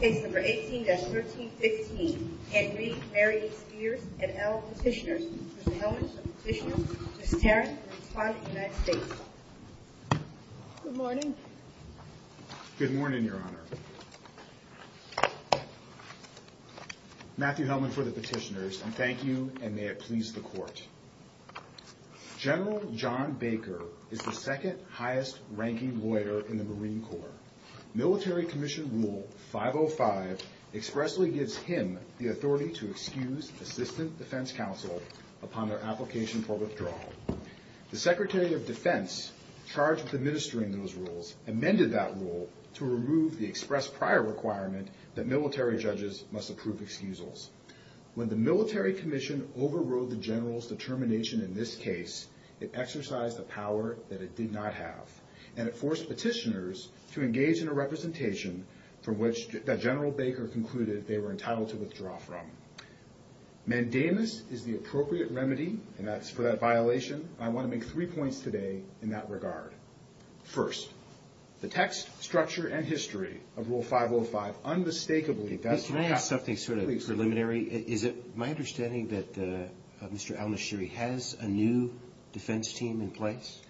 Case number 18-1315, Henry Mary Spears et al. Petitioners, Mr. Hellman for the Petitioners, Miss Tarrant, Respondent, United States. Good morning. Good morning, Your Honor. Matthew Hellman for the Petitioners, and thank you, and may it please the Court. General John Baker is the second highest-ranking lawyer in the Marine Corps. Military Commission Rule 505 expressly gives him the authority to excuse Assistant Defense Counsel upon their application for withdrawal. The Secretary of Defense charged with administering those rules amended that rule to remove the express prior requirement that military judges must approve excusals. When the Military Commission overrode the General's determination in this case, it exercised a power that it did not have, and it forced Petitioners to engage in a representation from which General Baker concluded they were entitled to withdraw from. Mandamus is the appropriate remedy, and that's for that violation. I want to make three points today in that regard. First, the text, structure, and history of Rule 505 unmistakably does not have something sort of preliminary. Is it my understanding that Mr. al-Nashiri has a new defense team in place?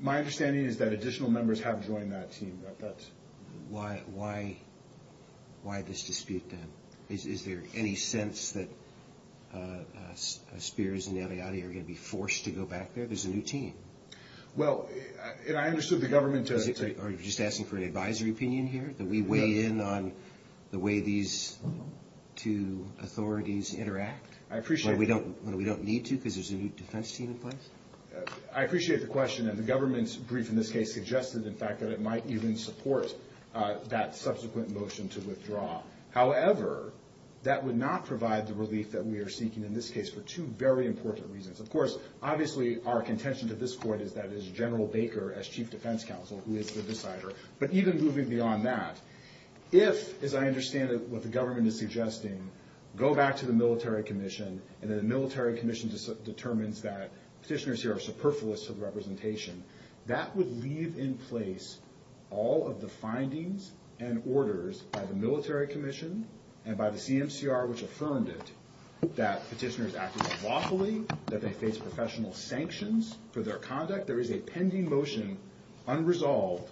My understanding is that additional members have joined that team. Why this dispute, then? Is there any sense that Spears and Eliade are going to be forced to go back there? There's a new team. Well, I understood the government took it. Are you just asking for an advisory opinion here? That we weigh in on the way these two authorities interact? I appreciate it. When we don't need to because there's a new defense team in place? I appreciate the question, and the government's brief in this case suggested, in fact, that it might even support that subsequent motion to withdraw. However, that would not provide the relief that we are seeking in this case for two very important reasons. Of course, obviously our contention to this Court is that as General Baker, as Chief Defense Counsel, who is the decider, but even moving beyond that, if, as I understand what the government is suggesting, go back to the military commission and the military commission determines that petitioners here are superfluous to the representation, that would leave in place all of the findings and orders by the military commission and by the CMCR, which affirmed it, that petitioners acted lawfully, that they face professional sanctions for their conduct. In effect, there is a pending motion unresolved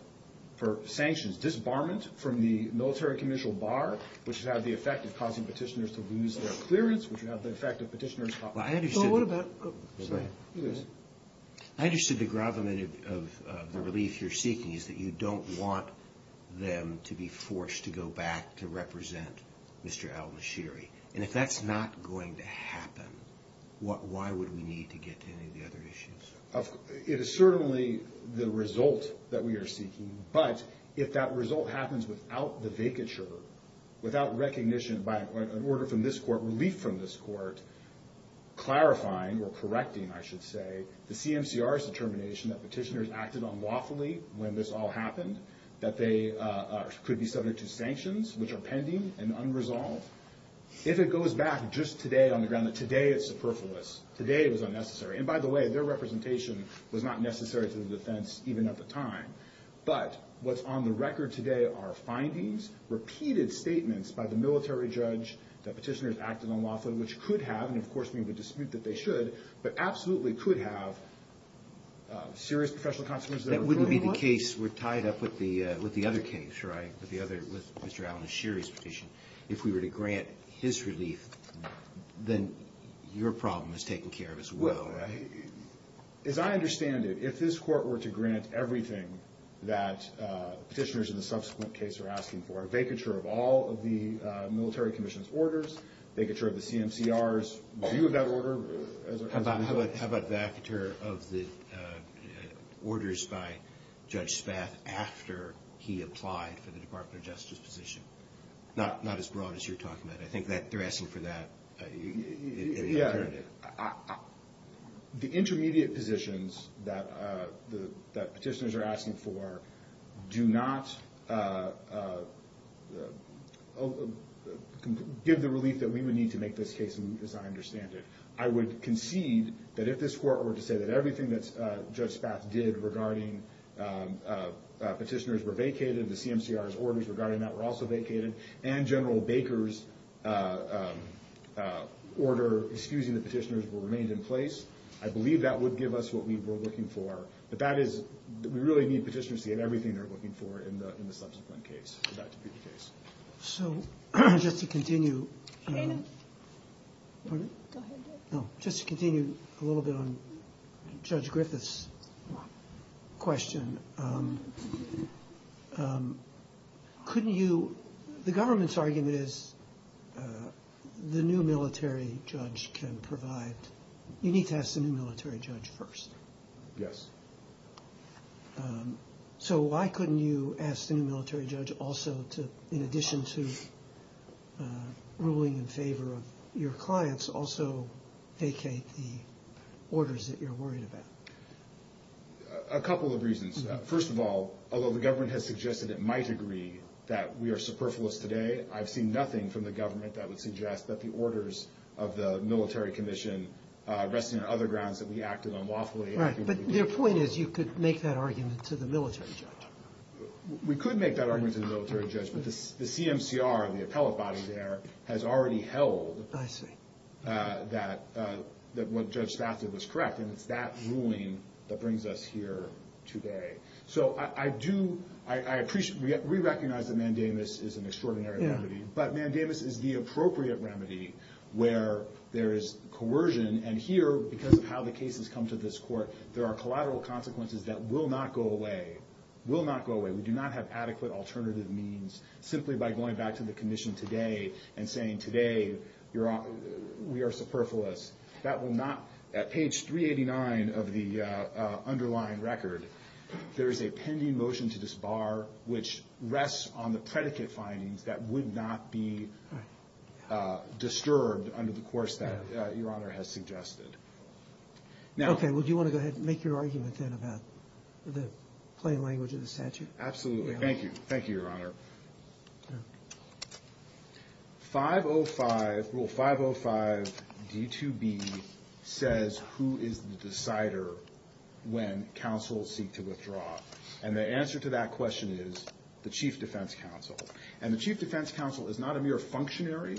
for sanctions, disbarment from the military commission bar, which would have the effect of causing petitioners to lose their clearance, which would have the effect of petitioners caught. So what about the relief you're seeking is that you don't want them to be forced to go back to represent Mr. al-Nashiri? And if that's not going to happen, why would we need to get to any of the other issues? It is certainly the result that we are seeking, but if that result happens without the vacature, without recognition by an order from this court, relief from this court, clarifying or correcting, I should say, the CMCR's determination that petitioners acted unlawfully when this all happened, that they could be subject to sanctions, which are pending and unresolved, if it goes back just today on the ground that today it's superfluous, today it was unnecessary. And by the way, their representation was not necessary to the defense even at the time. But what's on the record today are findings, repeated statements by the military judge that petitioners acted unlawfully, which could have, and of course we would dispute that they should, but absolutely could have serious professional consequences. That wouldn't be the case. We're tied up with the other case, right, with Mr. al-Nashiri's petition. If we were to grant his relief, then your problem is taken care of as well. As I understand it, if this court were to grant everything that petitioners in the subsequent case are asking for, a vacature of all of the military commission's orders, vacature of the CMCR's view of that order. How about vacature of the orders by Judge Spath after he applied for the Department of Justice position? Not as broad as you're talking about. I think that they're asking for that in the alternative. The intermediate positions that petitioners are asking for do not give the relief that we would need to make this case, as I understand it. I would concede that if this court were to say that everything that Judge Spath did regarding petitioners were vacated, the CMCR's orders regarding that were also vacated, and General Baker's order excusing the petitioners were remained in place, I believe that would give us what we were looking for. But that is, we really need petitioners to get everything they're looking for in the subsequent case. So just to continue a little bit on Judge Griffith's question, couldn't you, the government's argument is the new military judge can provide, you need to ask the new military judge first. Yes. So why couldn't you ask the new military judge also to, in addition to ruling in favor of your clients, also vacate the orders that you're worried about? A couple of reasons. First of all, although the government has suggested to my degree that we are superfluous today, I've seen nothing from the government that would suggest that the orders of the military commission rest in other grounds that we acted unlawfully. Right, but your point is you could make that argument to the military judge. We could make that argument to the military judge, but the CMCR, the appellate body there, has already held that what Judge Spafford was correct, and it's that ruling that brings us here today. So I do, I appreciate, we recognize that mandamus is an extraordinary remedy, but mandamus is the appropriate remedy where there is coercion, and here, because of how the cases come to this court, there are collateral consequences that will not go away. Will not go away. We do not have adequate alternative means simply by going back to the commission today and saying today we are superfluous. That will not, at page 389 of the underlying record, there is a pending motion to disbar which rests on the predicate findings that would not be disturbed under the course that Your Honor has suggested. Okay, well, do you want to go ahead and make your argument then about the plain language of the statute? Absolutely. Thank you. Thank you, Your Honor. Rule 505 D2B says who is the decider when counsels seek to withdraw, and the answer to that question is the chief defense counsel, and the chief defense counsel is not a mere functionary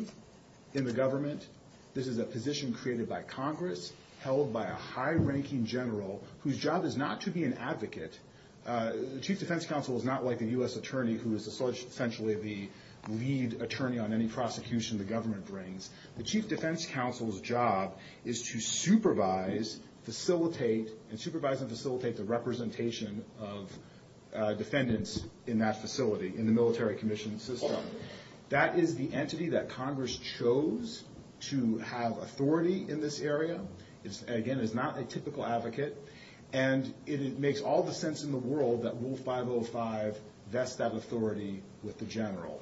in the government. This is a position created by Congress held by a high-ranking general whose job is not to be an advocate. The chief defense counsel is not like a U.S. attorney who is essentially the lead attorney on any prosecution the government brings. The chief defense counsel's job is to supervise, facilitate, and supervise and facilitate the representation of defendants in that facility, in the military commission system. That is the entity that Congress chose to have authority in this area. Again, it is not a typical advocate, and it makes all the sense in the world that Rule 505 vests that authority with the general.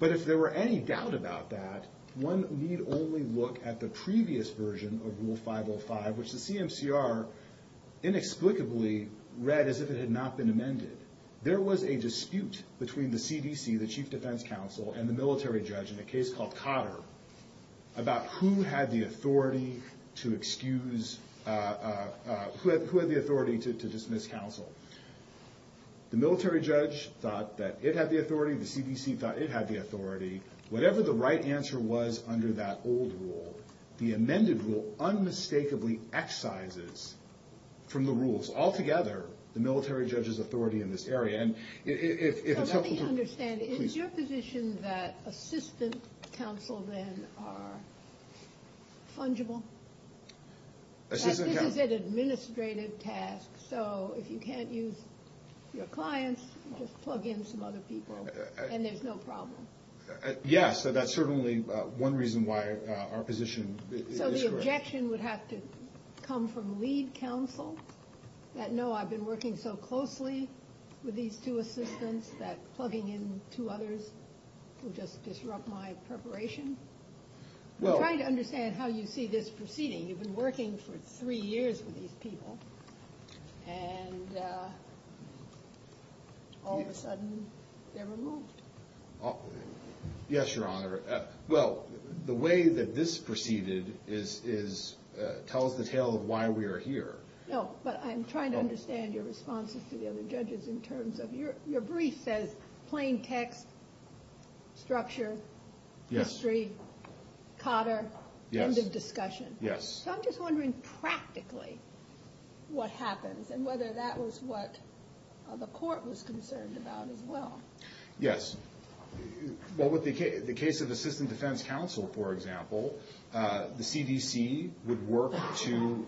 But if there were any doubt about that, one need only look at the previous version of Rule 505, which the CMCR inexplicably read as if it had not been amended. There was a dispute between the CDC, the chief defense counsel, and the military judge in a case called Cotter, about who had the authority to dismiss counsel. The military judge thought that it had the authority. The CDC thought it had the authority. Whatever the right answer was under that old rule, the amended rule unmistakably excises from the rules altogether the military judge's authority in this area. And if it's helpful to you, please. Let me understand. Is your position that assistant counsel then are fungible? Assistant counsel? This is an administrative task. So if you can't use your clients, just plug in some other people, and there's no problem. Yes, that's certainly one reason why our position is correct. So the objection would have to come from lead counsel, that no, I've been working so closely with these two assistants that plugging in two others will just disrupt my preparation? I'm trying to understand how you see this proceeding. You've been working for three years with these people, and all of a sudden they're removed. Yes, Your Honor. Well, the way that this proceeded tells the tale of why we are here. No, but I'm trying to understand your responses to the other judges in terms of your brief says plain text, structure, history, Cotter, end of discussion. Yes. So I'm just wondering practically what happens and whether that was what the court was concerned about as well. Yes. Well, with the case of assistant defense counsel, for example, the CDC would work to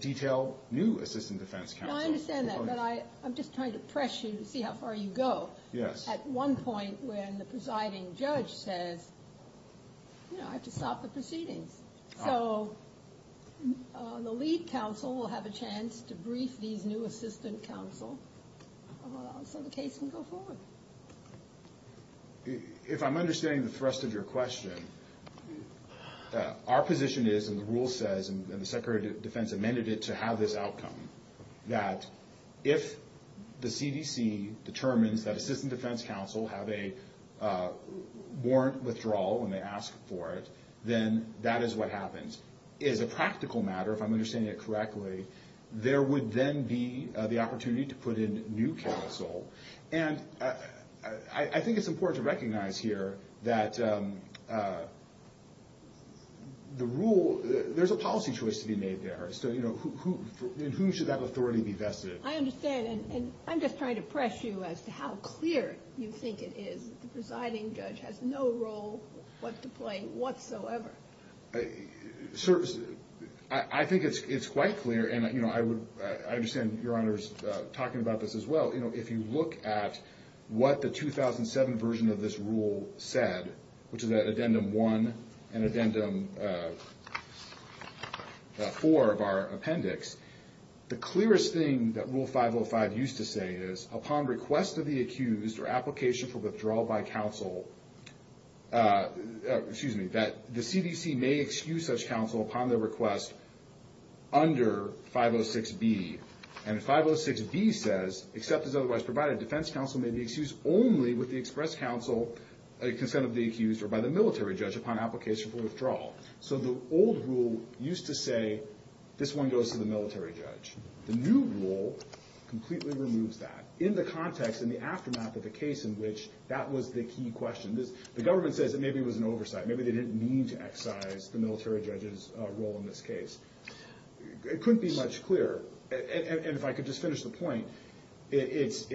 detail new assistant defense counsel. I understand that, but I'm just trying to press you to see how far you go. Yes. At one point when the presiding judge says, you know, I have to stop the proceedings. So the lead counsel will have a chance to brief these new assistant counsel so the case can go forward. If I'm understanding the thrust of your question, our position is, and the rule says, and the Secretary of Defense amended it to have this outcome, that if the CDC determines that assistant defense counsel have a warrant withdrawal when they ask for it, then that is what happens. As a practical matter, if I'm understanding it correctly, there would then be the opportunity to put in new counsel. And I think it's important to recognize here that the rule, there's a policy choice to be made there. So, you know, in whom should that authority be vested? I understand. And I'm just trying to press you as to how clear you think it is that the presiding judge has no role whatsoever. Sir, I think it's quite clear, and, you know, I understand Your Honor's talking about this as well. You know, if you look at what the 2007 version of this rule said, which is at Addendum 1 and Addendum 4 of our appendix, the clearest thing that Rule 505 used to say is, upon request of the accused or application for withdrawal by counsel, excuse me, that the CDC may excuse such counsel upon their request under 506B. And 506B says, except as otherwise provided, defense counsel may be excused only with the express counsel consent of the accused or by the military judge upon application for withdrawal. So the old rule used to say, this one goes to the military judge. The new rule completely removes that. In the context, in the aftermath of the case in which that was the key question, the government says that maybe it was an oversight. Maybe they didn't mean to excise the military judge's role in this case. It couldn't be much clearer. And if I could just finish the point, it's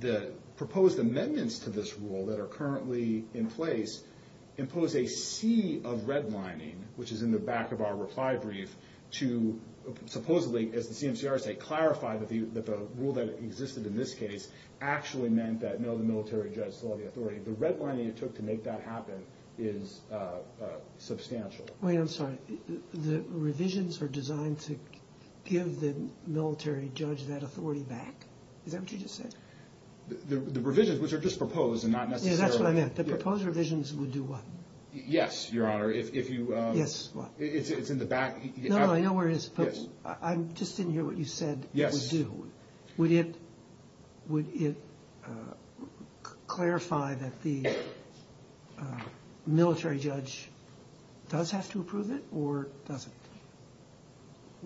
the proposed amendments to this rule that are currently in place impose a sea of redlining, which is in the back of our reply brief, to supposedly, as the CMCR say, clarify that the rule that existed in this case actually meant that no, the military judge saw the authority. The redlining it took to make that happen is substantial. Wait, I'm sorry. The revisions are designed to give the military judge that authority back? Is that what you just said? The revisions, which are just proposed and not necessarily – Yeah, that's what I meant. The proposed revisions would do what? Yes, Your Honor. If you – Yes, what? It's in the back. No, no, I know where it is, but I just didn't hear what you said it would do. Yes. Would it clarify that the military judge does have to approve it or doesn't?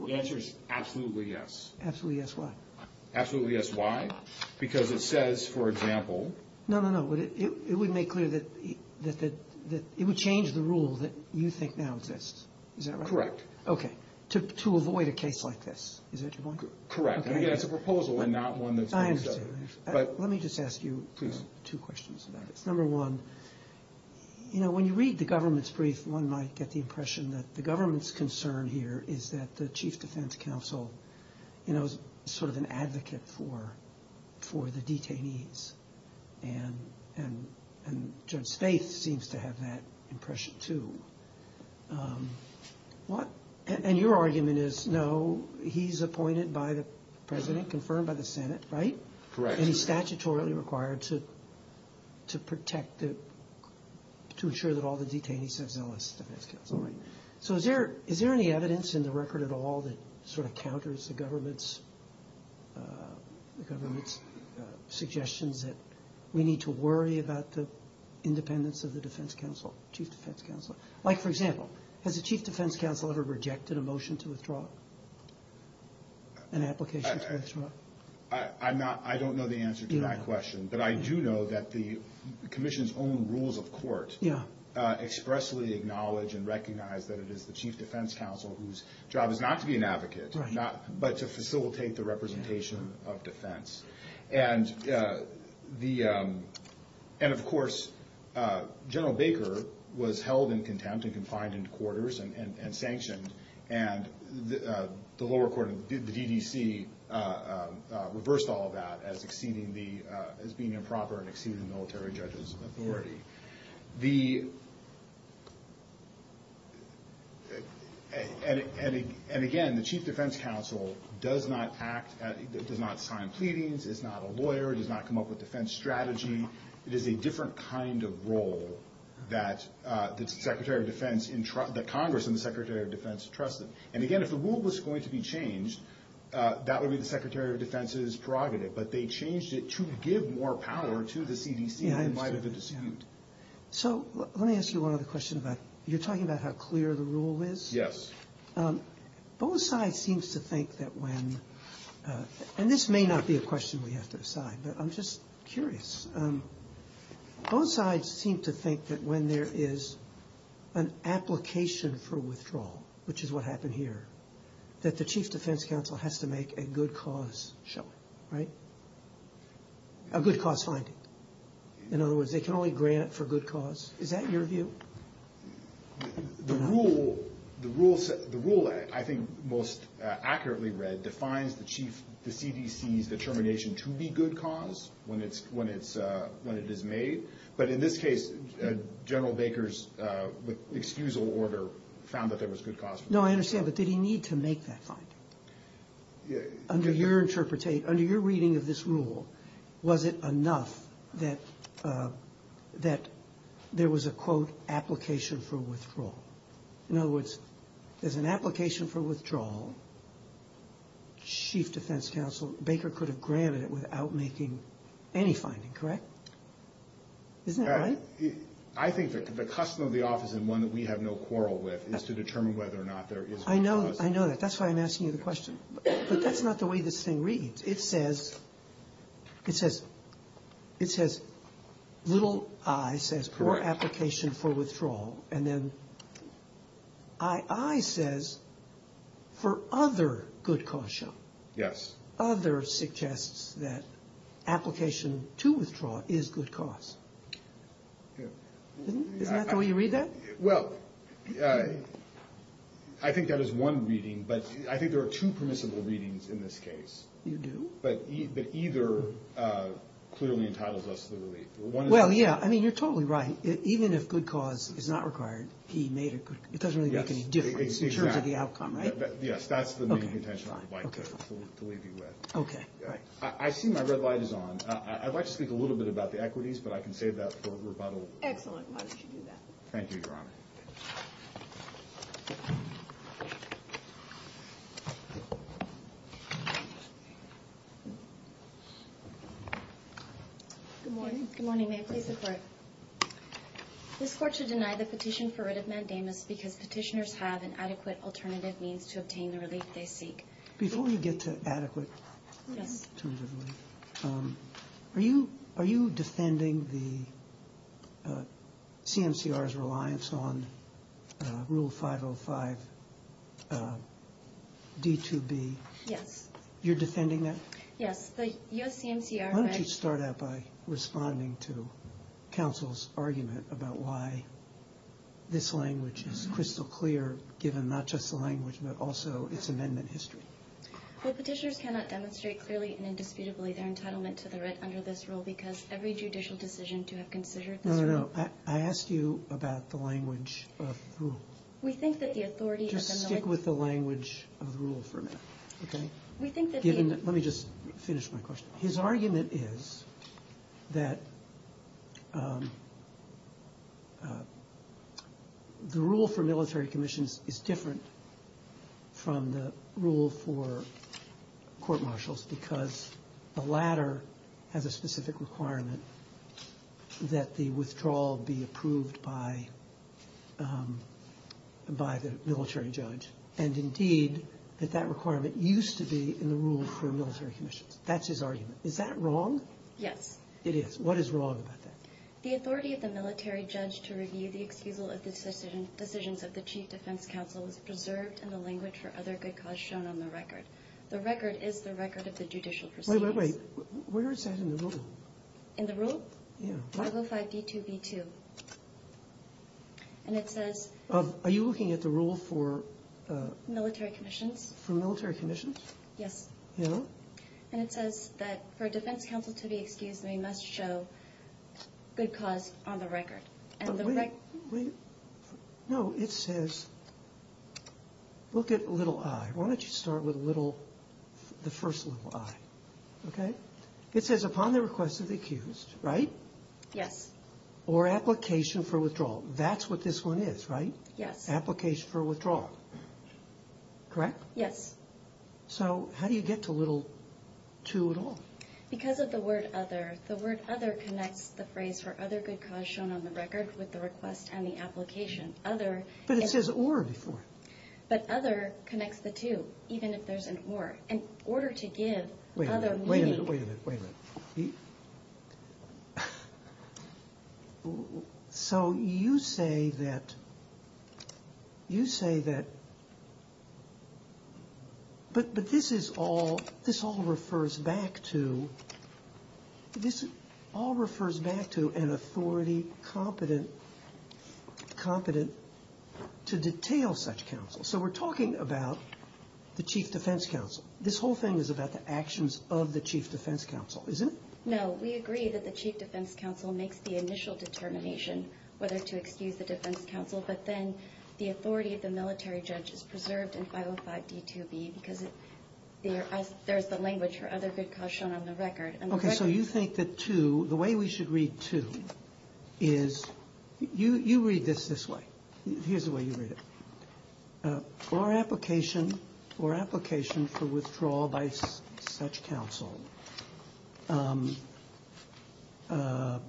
The answer is absolutely yes. Absolutely yes, why? Absolutely yes, why? Because it says, for example – No, no, no. It would make clear that – it would change the rule that you think now exists. Is that right? Correct. Okay. To avoid a case like this. Is that your point? Correct. Again, it's a proposal and not one that – I understand. Let me just ask you two questions about this. Number one, you know, when you read the government's brief, one might get the impression that the government's concern here is that the Chief Defense Counsel, you know, is sort of an advocate for the detainees. And Judge Spaeth seems to have that impression too. What – and your argument is, no, he's appointed by the President, confirmed by the Senate, right? Correct. And he's statutorily required to protect the – to ensure that all the detainees have zealous defense counsel, right? So is there any evidence in the record at all that sort of counters the government's suggestions that we need to worry about the independence of the defense counsel, Chief Defense Counsel? Like, for example, has the Chief Defense Counsel ever rejected a motion to withdraw, an application to withdraw? I'm not – I don't know the answer to that question. But I do know that the Commission's own rules of court expressly acknowledge and recognize that it is the Chief Defense Counsel whose job is not to be an advocate, but to facilitate the representation of defense. And the – and, of course, General Baker was held in contempt and confined into quarters and sanctioned. And the lower court, the DDC, reversed all of that as exceeding the – as being improper and exceeding the military judges of authority. The – and, again, the Chief Defense Counsel does not act – does not sign pleadings, is not a lawyer, does not come up with defense strategy. It is a different kind of role that the Secretary of Defense in – that Congress and the Secretary of Defense trusted. And, again, if the rule was going to be changed, that would be the Secretary of Defense's prerogative. But they changed it to give more power to the CDC than might have been assumed. So let me ask you one other question about – you're talking about how clear the rule is? Yes. Both sides seems to think that when – and this may not be a question we have to decide, but I'm just curious. Both sides seem to think that when there is an application for withdrawal, which is what happened here, that the Chief Defense Counsel has to make a good cause showing, right, a good cause finding. In other words, they can only grant for good cause. Is that your view? The rule – the rule – the rule I think most accurately read defines the chief – the CDC's determination to be good cause when it's – when it's – when it is made. But in this case, General Baker's excusal order found that there was good cause for it. No, I understand. But did he need to make that finding? Under your interpretate – under your reading of this rule, was it enough that – that there was a, quote, application for withdrawal? In other words, there's an application for withdrawal. Chief Defense Counsel Baker could have granted it without making any finding, correct? Isn't that right? I think the custom of the office and one that we have no quarrel with is to determine whether or not there is good cause. I know – I know that. That's why I'm asking you the question. But that's not the way this thing reads. It says – it says – it says little i says for application for withdrawal. And then ii says for other good cause show. Yes. Other suggests that application to withdraw is good cause. Isn't that the way you read that? Well, I think that is one reading. But I think there are two permissible readings in this case. You do? But either clearly entitles us to the relief. Well, yeah. I mean, you're totally right. Even if good cause is not required, he made a – it doesn't really make any difference in terms of the outcome, right? Yes, that's the main intention I would like to leave you with. Okay, right. I see my red light is on. I'd like to speak a little bit about the equities, but I can save that for rebuttal. Excellent. Why don't you do that? Thank you, Your Honor. Good morning. Good morning. May it please the Court. This Court should deny the petition for writ of mandamus because petitioners have an adequate alternative means to obtain the relief they seek. Before we get to adequate alternative relief, are you defending the CMCR's reliance on Rule 505 D2B? Yes. You're defending that? Yes. The U.S. CMCR – Why don't you start out by responding to counsel's argument about why this language is crystal clear, given not just the language but also its amendment history? Well, petitioners cannot demonstrate clearly and indisputably their entitlement to the writ under this rule because every judicial decision to have considered this rule – No, no, no. I asked you about the language of the rule. We think that the authority of the – Just stick with the language of the rule for a minute, okay? We think that the – Let me just finish my question. His argument is that the rule for military commissions is different from the rule for court-martials because the latter has a specific requirement that the withdrawal be approved by the military judge. And indeed, that that requirement used to be in the rule for military commissions. That's his argument. Is that wrong? Yes. It is. What is wrong about that? The authority of the military judge to review the excusal of the decisions of the Chief Defense Counsel is preserved in the language for other good cause shown on the record. The record is the record of the judicial proceedings. Wait, wait, wait. Where is that in the rule? In the rule? Yeah. What? 505 D2B2. And it says – Are you looking at the rule for – Military commissions. For military commissions? Yes. Yeah. And it says that for a defense counsel to be excused, they must show good cause on the record. And the – Wait, wait. No, it says – look at little i. Why don't you start with little – the first little i, okay? It says upon the request of the accused, right? Yes. Or application for withdrawal. That's what this one is, right? Yes. Application for withdrawal. Correct? Yes. So how do you get to little two at all? Because of the word other. The word other connects the phrase for other good cause shown on the record with the request and the application. Other – But it says or before. But other connects the two, even if there's an or. In order to give other meaning – Wait a minute. Wait a minute. Wait a minute. So you say that – you say that – but this is all – this all refers back to – this all refers back to an authority competent to detail such counsel. So we're talking about the chief defense counsel. This whole thing is about the actions of the chief defense counsel, isn't it? No. We agree that the chief defense counsel makes the initial determination whether to excuse the defense counsel, but then the authority of the military judge is preserved in 505D2B because there's the language for other good cause shown on the record. Okay. So you think that two – the way we should read two is – you read this this way. Here's the way you read it. Or application – or application for withdrawal by such counsel for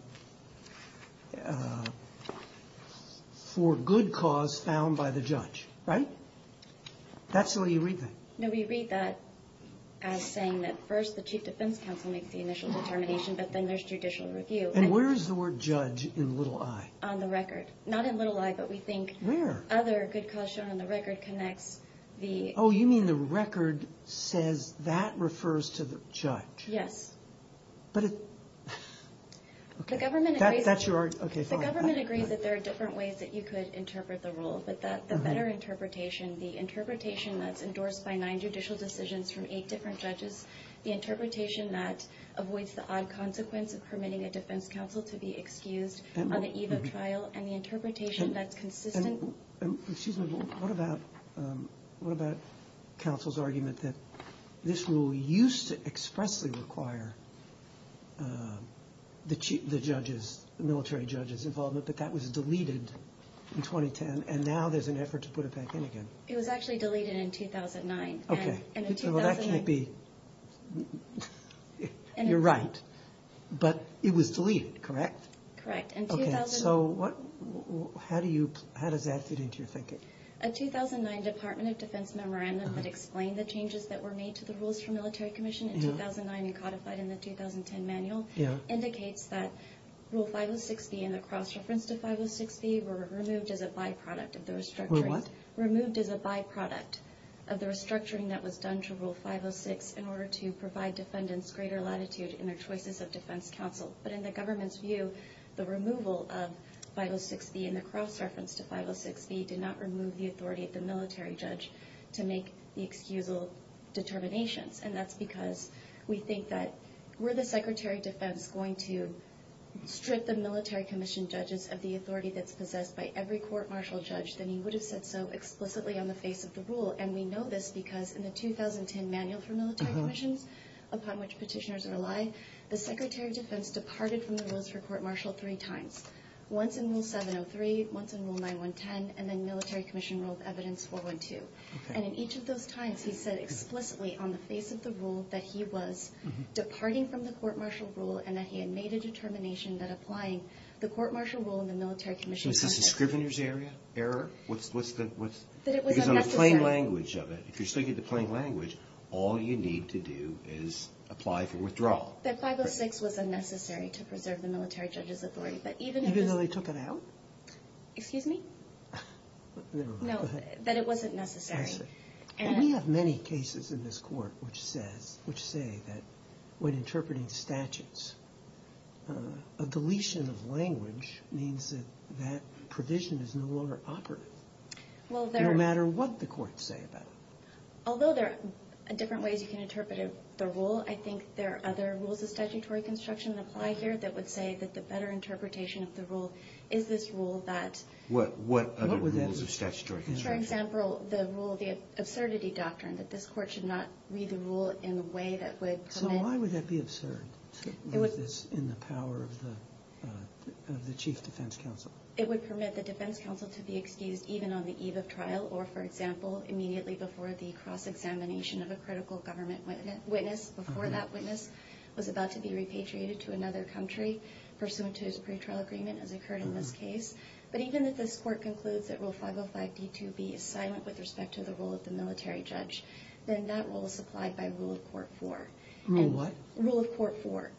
good cause found by the judge, right? That's the way you read that. No, we read that as saying that first the chief defense counsel makes the initial determination, but then there's judicial review. And where is the word judge in little i? On the record. Not in little i, but we think – Where? Other good cause shown on the record connects the – Oh, you mean the record says that refers to the judge. Yes. But it – The government agrees – That's your – okay, fine. The government agrees that there are different ways that you could interpret the rule. But the better interpretation, the interpretation that's endorsed by nine judicial decisions from eight different judges, the interpretation that avoids the odd consequence of permitting a defense counsel to be excused on the eve of trial, and the interpretation that's consistent – Excuse me. What about counsel's argument that this rule used to expressly require the judges, the military judges' involvement, but that was deleted in 2010, and now there's an effort to put it back in again? It was actually deleted in 2009. Okay. And in 2009 – Well, that can't be – you're right. But it was deleted, correct? Correct. Okay, so what – how do you – how does that fit into your thinking? A 2009 Department of Defense memorandum that explained the changes that were made to the Rules for Military Commission in 2009 and codified in the 2010 manual indicates that Rule 506B and the cross-reference to 506B were removed as a byproduct of the restructuring. Were what? Removed as a byproduct of the restructuring that was done to Rule 506 in order to provide defendants greater latitude in their choices of defense counsel. But in the government's view, the removal of 506B and the cross-reference to 506B did not remove the authority of the military judge to make the excusal determinations. And that's because we think that were the Secretary of Defense going to strip the military commission judges of the authority that's possessed by every court-martial judge, then he would have said so explicitly on the face of the rule. And we know this because in the 2010 manual for military commissions, upon which petitioners rely, the Secretary of Defense departed from the Rules for Court Martial three times. Once in Rule 703, once in Rule 9110, and then Military Commission Rule of Evidence 412. And in each of those times, he said explicitly on the face of the rule that he was departing from the court-martial rule and that he had made a determination that applying the court-martial rule in the military commission – Was this a scrivener's area error? That it was unnecessary. Because on the plain language of it, if you're speaking the plain language, all you need to do is apply for withdrawal. That 506 was unnecessary to preserve the military judge's authority. Even though they took it out? Excuse me? Never mind. No, that it wasn't necessary. We have many cases in this court which say that when interpreting statutes, a deletion of language means that that provision is no longer operative. No matter what the courts say about it. Although there are different ways you can interpret the rule, I think there are other rules of statutory construction that apply here that would say that the better interpretation of the rule is this rule that – What other rules of statutory construction? For example, the rule of the absurdity doctrine, that this court should not read the rule in a way that would permit – So why would that be absurd to read this in the power of the chief defense counsel? It would permit the defense counsel to be excused even on the eve of trial or, for example, immediately before the cross-examination of a critical government witness. Before that witness was about to be repatriated to another country pursuant to his pretrial agreement, as occurred in this case. But even if this court concludes that Rule 505d2b is silent with respect to the role of the military judge, then that rule is supplied by Rule of Court 4. Rule what? Rule of Court 4.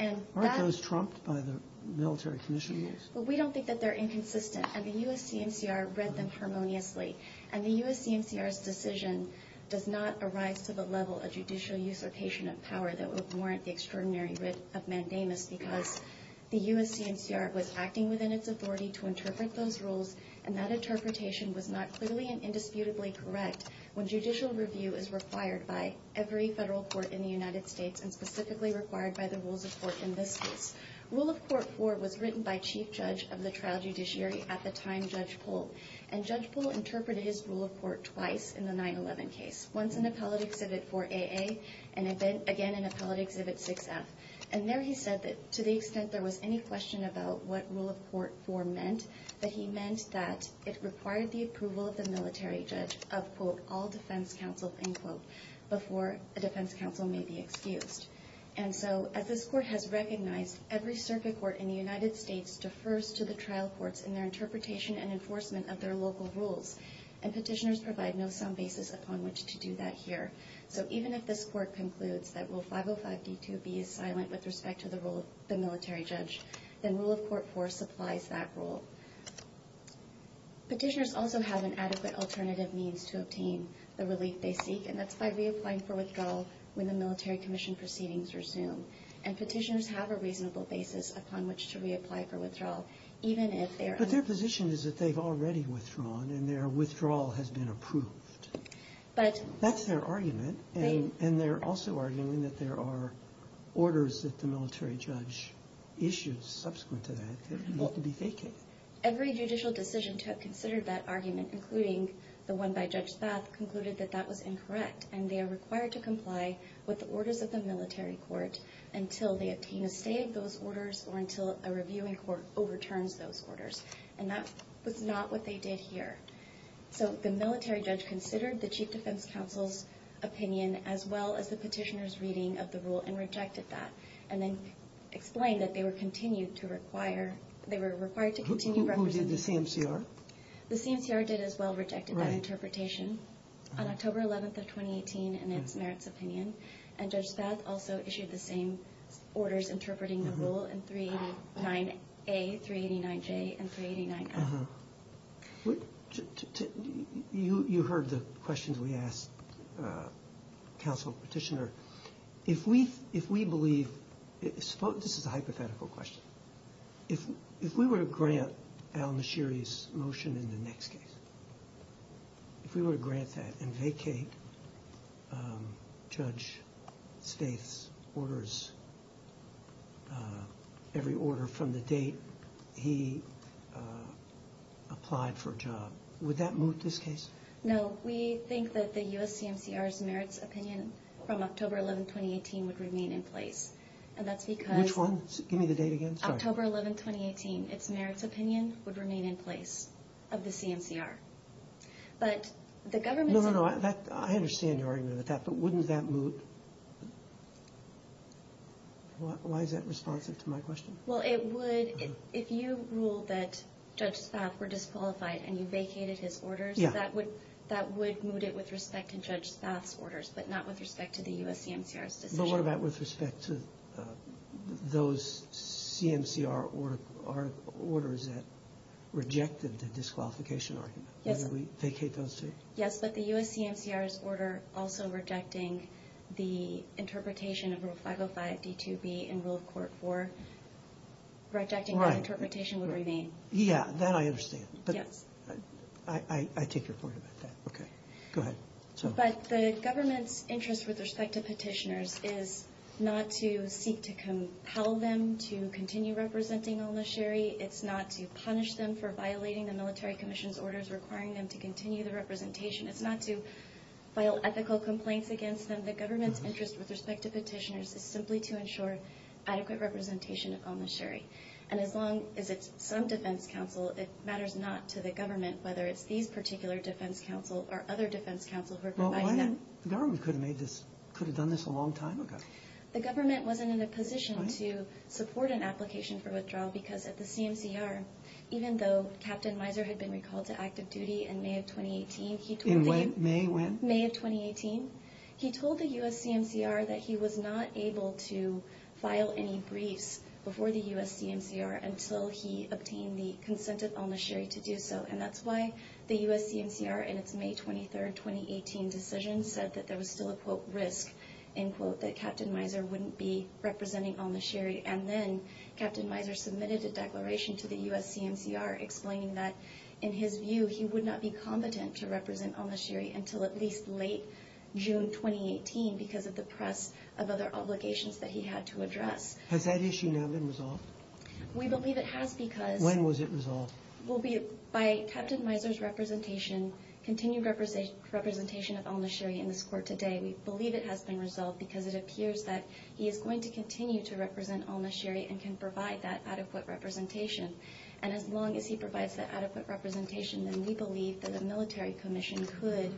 Aren't those trumped by the military commission rules? We don't think that they're inconsistent. And the U.S.C.M.C.R. read them harmoniously. And the U.S.C.M.C.R.'s decision does not arise to the level of judicial usurpation of power that would warrant the extraordinary writ of mandamus because the U.S.C.M.C.R. was acting within its authority to interpret those rules, and that interpretation was not clearly and indisputably correct when judicial review is required by every federal court in the United States and specifically required by the rules of court in this case. Rule of Court 4 was written by chief judge of the trial judiciary at the time, Judge Pohl. And Judge Pohl interpreted his Rule of Court twice in the 9-11 case, once in Appellate Exhibit 4AA and again in Appellate Exhibit 6F. And there he said that to the extent there was any question about what Rule of Court 4 meant, that he meant that it required the approval of the military judge of, quote, all defense counsel, end quote, before a defense counsel may be excused. And so as this court has recognized, every circuit court in the United States defers to the trial courts in their interpretation and enforcement of their local rules, and petitioners provide no sound basis upon which to do that here. So even if this court concludes that Rule 505d2b is silent with respect to the role of the military judge, then Rule of Court 4 supplies that role. Petitioners also have an adequate alternative means to obtain the relief they seek, and that's by reapplying for withdrawal when the military commission proceedings resume. And petitioners have a reasonable basis upon which to reapply for withdrawal, even if they are unable to do so. But their position is that they've already withdrawn and their withdrawal has been approved. That's their argument, and they're also arguing that there are orders that the military judge issued subsequent to that that need to be vacated. Every judicial decision to have considered that argument, including the one by Judge Spath, concluded that that was incorrect, and they are required to comply with the orders of the military court until they obtain a stay of those orders or until a reviewing court overturns those orders. And that was not what they did here. So the military judge considered the Chief Defense Counsel's opinion, as well as the petitioner's reading of the rule, and rejected that, and then explained that they were required to continue reference. Who did the CMCR? The CMCR did as well, rejected that interpretation on October 11th of 2018 in its merits opinion, and Judge Spath also issued the same orders interpreting the rule in 389a, 389j, and 389f. You heard the questions we asked Counsel Petitioner. If we believe, this is a hypothetical question. If we were to grant Al-Nashiri's motion in the next case, if we were to grant that and vacate Judge Spath's orders, every order from the date he applied for a job, would that moot this case? No. We think that the U.S. CMCR's merits opinion from October 11th, 2018, would remain in place. And that's because... Which one? Give me the date again. Sorry. October 11th, 2018, its merits opinion would remain in place of the CMCR. But the government... No, no, no. I understand your argument with that, but wouldn't that moot... Why is that responsive to my question? Well, it would... If you rule that Judge Spath were disqualified and you vacated his orders, that would moot it with respect to Judge Spath's orders, but not with respect to the U.S. CMCR's decision. But what about with respect to those CMCR orders that rejected the disqualification argument? Yes. Yes, but the U.S. CMCR's order also rejecting the interpretation of Rule 505 D2B in Rule of Court 4, rejecting that interpretation would remain. Right. Yeah, that I understand. Yes. I take your point about that. Okay. Go ahead. But the government's interest with respect to petitioners is not to seek to compel them to continue representing El-Nasheri. It's not to punish them for violating the military commission's orders requiring them to continue the representation. It's not to file ethical complaints against them. The government's interest with respect to petitioners is simply to ensure adequate representation of El-Nasheri. And as long as it's some defense counsel, it matters not to the government, whether it's these particular defense counsel or other defense counsel who are providing that. Well, why not? The government could have done this a long time ago. Because at the CMCR, even though Captain Miser had been recalled to active duty in May of 2018, he told the— In what? May when? May of 2018. He told the U.S. CMCR that he was not able to file any briefs before the U.S. CMCR until he obtained the consent of El-Nasheri to do so. And that's why the U.S. CMCR in its May 23, 2018 decision said that there was still a, quote, that Captain Miser wouldn't be representing El-Nasheri. And then Captain Miser submitted a declaration to the U.S. CMCR explaining that, in his view, he would not be competent to represent El-Nasheri until at least late June 2018 because of the press of other obligations that he had to address. Has that issue now been resolved? We believe it has because— When was it resolved? By Captain Miser's representation, continued representation of El-Nasheri in this court today. We believe it has been resolved because it appears that he is going to continue to represent El-Nasheri and can provide that adequate representation. And as long as he provides that adequate representation, then we believe that a military commission could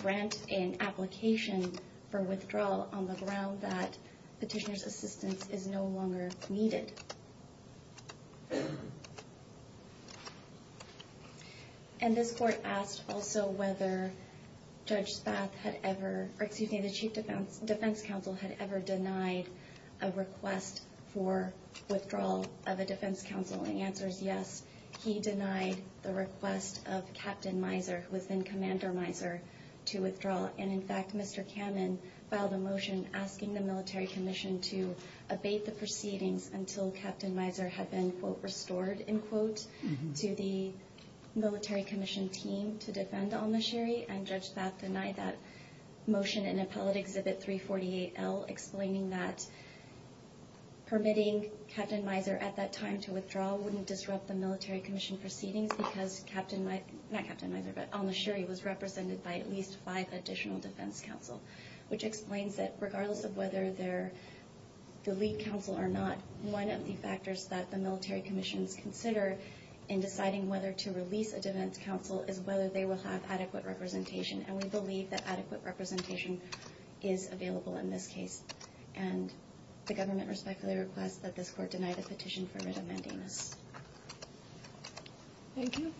grant an application for withdrawal on the ground that petitioner's assistance is no longer needed. And this court asked also whether Judge Spath had ever— or excuse me, the Chief Defense Counsel had ever denied a request for withdrawal of a defense counsel. And the answer is yes, he denied the request of Captain Miser, who was then Commander Miser, to withdraw. And, in fact, Mr. Kammen filed a motion asking the military commission to abate the proceedings until Captain Miser had been, quote, restored, end quote, to the military commission team to defend El-Nasheri. And Judge Spath denied that motion in Appellate Exhibit 348L, explaining that permitting Captain Miser at that time to withdraw wouldn't disrupt the military commission proceedings because Captain— not Captain Miser, but El-Nasheri was represented by at least five additional defense counsel, which explains that regardless of whether they're the lead counsel or not, one of the factors that the military commissions consider in deciding whether to release a defense counsel is whether they will have adequate representation. And we believe that adequate representation is available in this case. And the government respectfully requests that this court deny the petition for writ of mandamus. Thank you.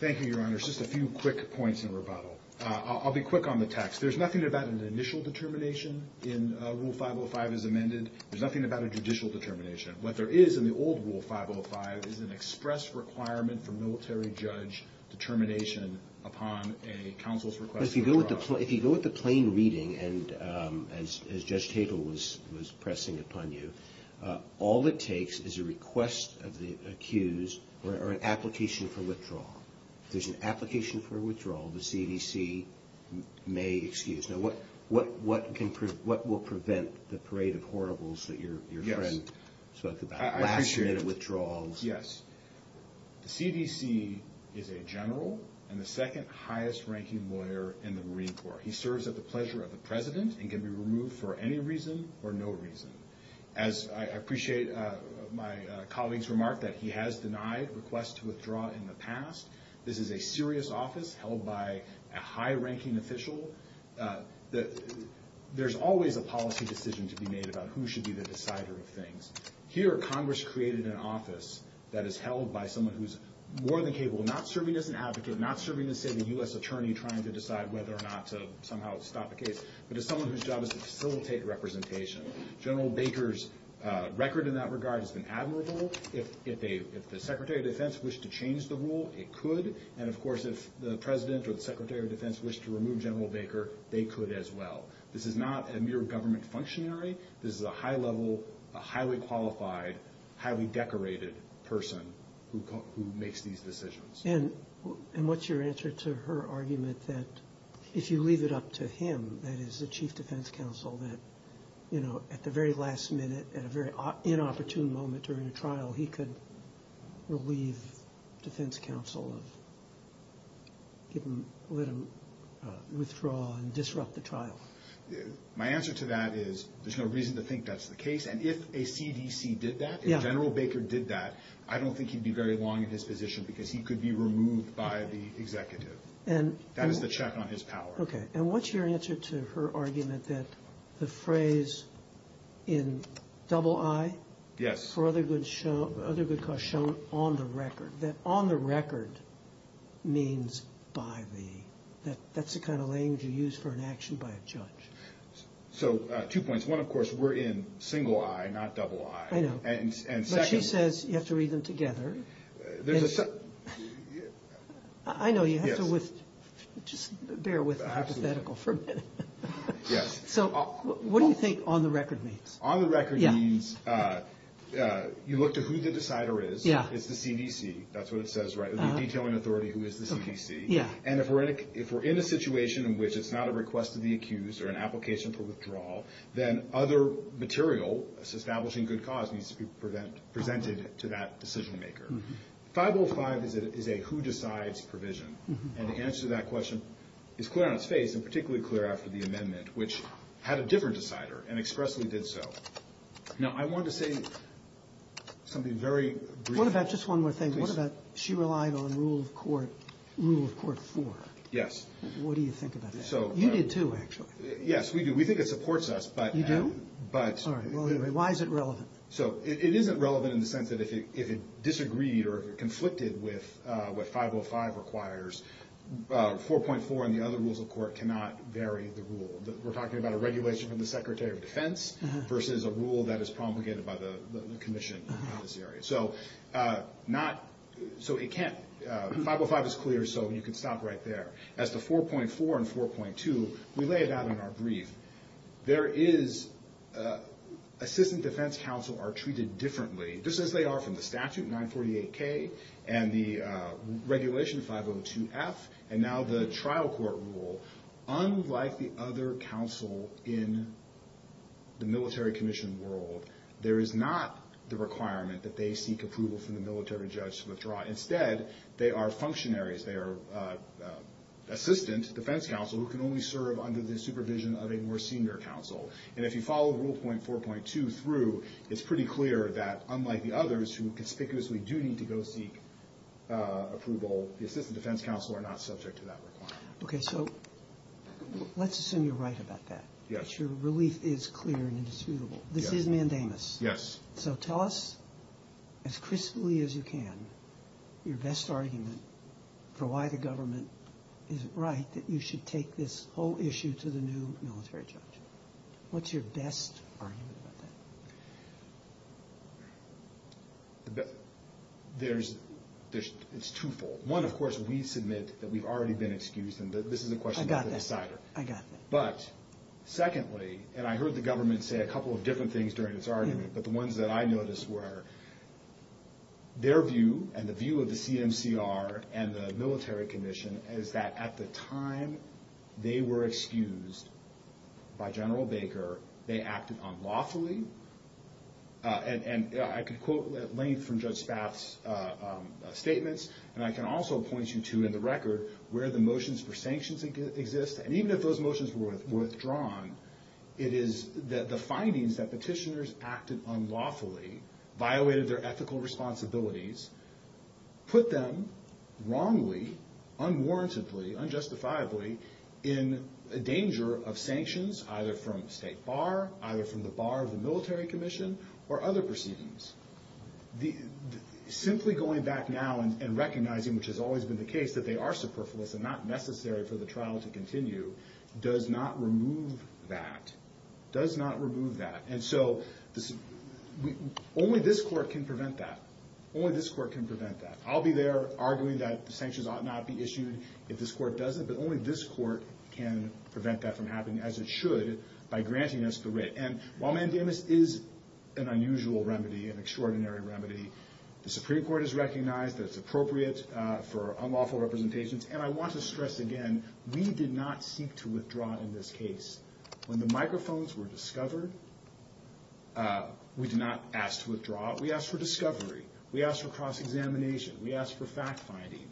Thank you, Your Honor. Just a few quick points in rebuttal. I'll be quick on the text. There's nothing about an initial determination in Rule 505 as amended. There's nothing about a judicial determination. What there is in the old Rule 505 is an express requirement for military judge determination upon a counsel's request to withdraw. But if you go with the plain reading, as Judge Tatel was pressing upon you, all it takes is a request of the accused or an application for withdrawal. If there's an application for withdrawal, the CDC may excuse. Now, what will prevent the parade of horribles that your friend spoke about? Last-minute withdrawals. First, yes, the CDC is a general and the second highest-ranking lawyer in the Marine Corps. He serves at the pleasure of the President and can be removed for any reason or no reason. As I appreciate my colleague's remark that he has denied requests to withdraw in the past, this is a serious office held by a high-ranking official. There's always a policy decision to be made about who should be the decider of things. Here, Congress created an office that is held by someone who's more than capable of not serving as an advocate, not serving as, say, the U.S. attorney trying to decide whether or not to somehow stop a case, but as someone whose job is to facilitate representation. General Baker's record in that regard has been admirable. If the Secretary of Defense wished to change the rule, it could. And, of course, if the President or the Secretary of Defense wished to remove General Baker, they could as well. This is not a mere government functionary. This is a high-level, highly qualified, highly decorated person who makes these decisions. And what's your answer to her argument that if you leave it up to him, that is the chief defense counsel, that at the very last minute, at a very inopportune moment during a trial, he could relieve defense counsel of letting him withdraw and disrupt the trial? My answer to that is there's no reason to think that's the case. And if a CDC did that, if General Baker did that, I don't think he'd be very long in his position because he could be removed by the executive. That is the check on his power. Okay. And what's your answer to her argument that the phrase in double I for other good cause shown on the record, that on the record means by the, that that's the kind of language you use for an action by a judge? So, two points. One, of course, we're in single I, not double I. I know. And second. But she says you have to read them together. I know. You have to just bear with the hypothetical for a minute. Yes. So what do you think on the record means? On the record means you look to who the decider is. It's the CDC. That's what it says, right? The detailing authority who is the CDC. And if we're in a situation in which it's not a request to be accused or an application for withdrawal, then other material establishing good cause needs to be presented to that decision maker. 505 is a who decides provision. And the answer to that question is clear on its face and particularly clear after the amendment, which had a different decider and expressly did so. Now, I wanted to say something very brief. What about just one more thing? What about she relied on rule of court rule of court four? Yes. What do you think about that? You did, too, actually. Yes, we do. We think it supports us. You do? Sorry. Well, anyway, why is it relevant? So it isn't relevant in the sense that if it disagreed or if it conflicted with what 505 requires, 4.4 and the other rules of court cannot vary the rule. We're talking about a regulation from the Secretary of Defense versus a rule that is promulgated by the commission in this area. So 505 is clear, so you can stop right there. As to 4.4 and 4.2, we lay it out in our brief. There is assistant defense counsel are treated differently, just as they are from the statute, 948K, and the regulation 502F, and now the trial court rule. Unlike the other counsel in the military commission world, there is not the requirement that they seek approval from the military judge to withdraw. Instead, they are functionaries. They are assistant defense counsel who can only serve under the supervision of a more senior counsel. And if you follow rule 4.2 through, it's pretty clear that, unlike the others, who conspicuously do need to go seek approval, the assistant defense counsel are not subject to that requirement. Okay, so let's assume you're right about that. Yes. That your relief is clear and indisputable. Yes. This is mandamus. Yes. So tell us as crisply as you can your best argument for why the government isn't right, that you should take this whole issue to the new military judge. What's your best argument about that? There's twofold. One, of course, we submit that we've already been excused, and this is a question of the decider. I got that. But secondly, and I heard the government say a couple of different things during its argument, but the ones that I noticed were their view and the view of the CMCR and the military commission is that, at the time they were excused by General Baker, they acted unlawfully. And I could quote at length from Judge Spaff's statements, and I can also point you to, in the record, where the motions for sanctions exist, and even if those motions were withdrawn, it is the findings that petitioners acted unlawfully, violated their ethical responsibilities, put them wrongly, unwarrantedly, unjustifiably in danger of sanctions either from state bar, either from the bar of the military commission, or other proceedings. Simply going back now and recognizing, which has always been the case, that they are superfluous and not necessary for the trial to continue does not remove that, does not remove that. And so only this court can prevent that. Only this court can prevent that. I'll be there arguing that the sanctions ought not be issued if this court doesn't, but only this court can prevent that from happening, as it should, by granting us the writ. And while mandamus is an unusual remedy, an extraordinary remedy, the Supreme Court has recognized that it's appropriate for unlawful representations. And I want to stress again, we did not seek to withdraw in this case. When the microphones were discovered, we did not ask to withdraw. We asked for discovery. We asked for cross-examination. We asked for fact-finding.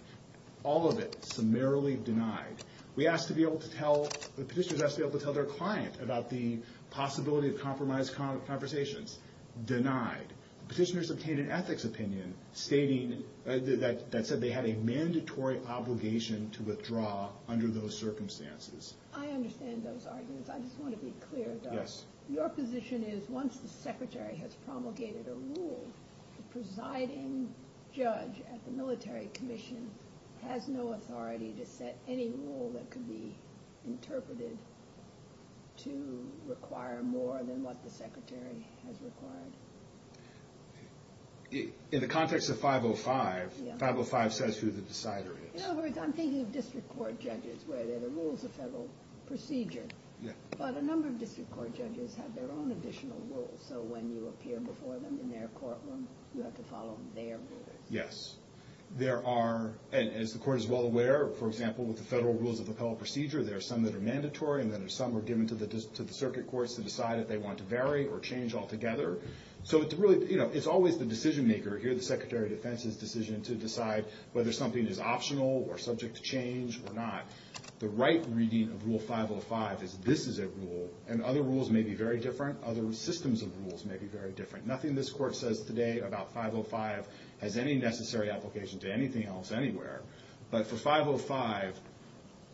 All of it summarily denied. We asked to be able to tell, the petitioners asked to be able to tell their client about the possibility of compromised conversations. Denied. The petitioners obtained an ethics opinion stating that they had a mandatory obligation to withdraw under those circumstances. I understand those arguments. I just want to be clear, though. Your position is once the secretary has promulgated a rule, the presiding judge at the military commission has no authority to set any rule that could be interpreted to require more than what the secretary has required. In the context of 505, 505 says who the decider is. In other words, I'm thinking of district court judges where there are rules of federal procedure. But a number of district court judges have their own additional rules, so when you appear before them in their courtroom, you have to follow their rules. Yes. There are, and as the court is well aware, for example, with the federal rules of appellate procedure, there are some that are mandatory and then there are some that are given to the circuit courts to decide if they want to vary or change altogether. So it's always the decision-maker. Here the Secretary of Defense's decision to decide whether something is optional or subject to change or not. The right reading of Rule 505 is this is a rule, and other rules may be very different. Other systems of rules may be very different. Nothing this court says today about 505 has any necessary application to anything else anywhere. But for 505,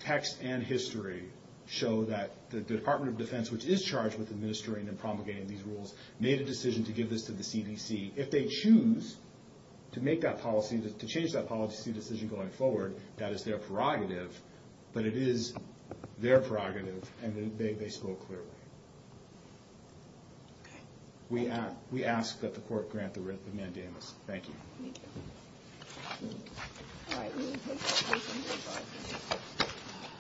text and history show that the Department of Defense, which is charged with administering and promulgating these rules, made a decision to give this to the CDC. If they choose to make that policy, to change that policy decision going forward, that is their prerogative, but it is their prerogative, and they spoke clearly. We ask that the court grant the writ of mandamus. Thank you. Thank you.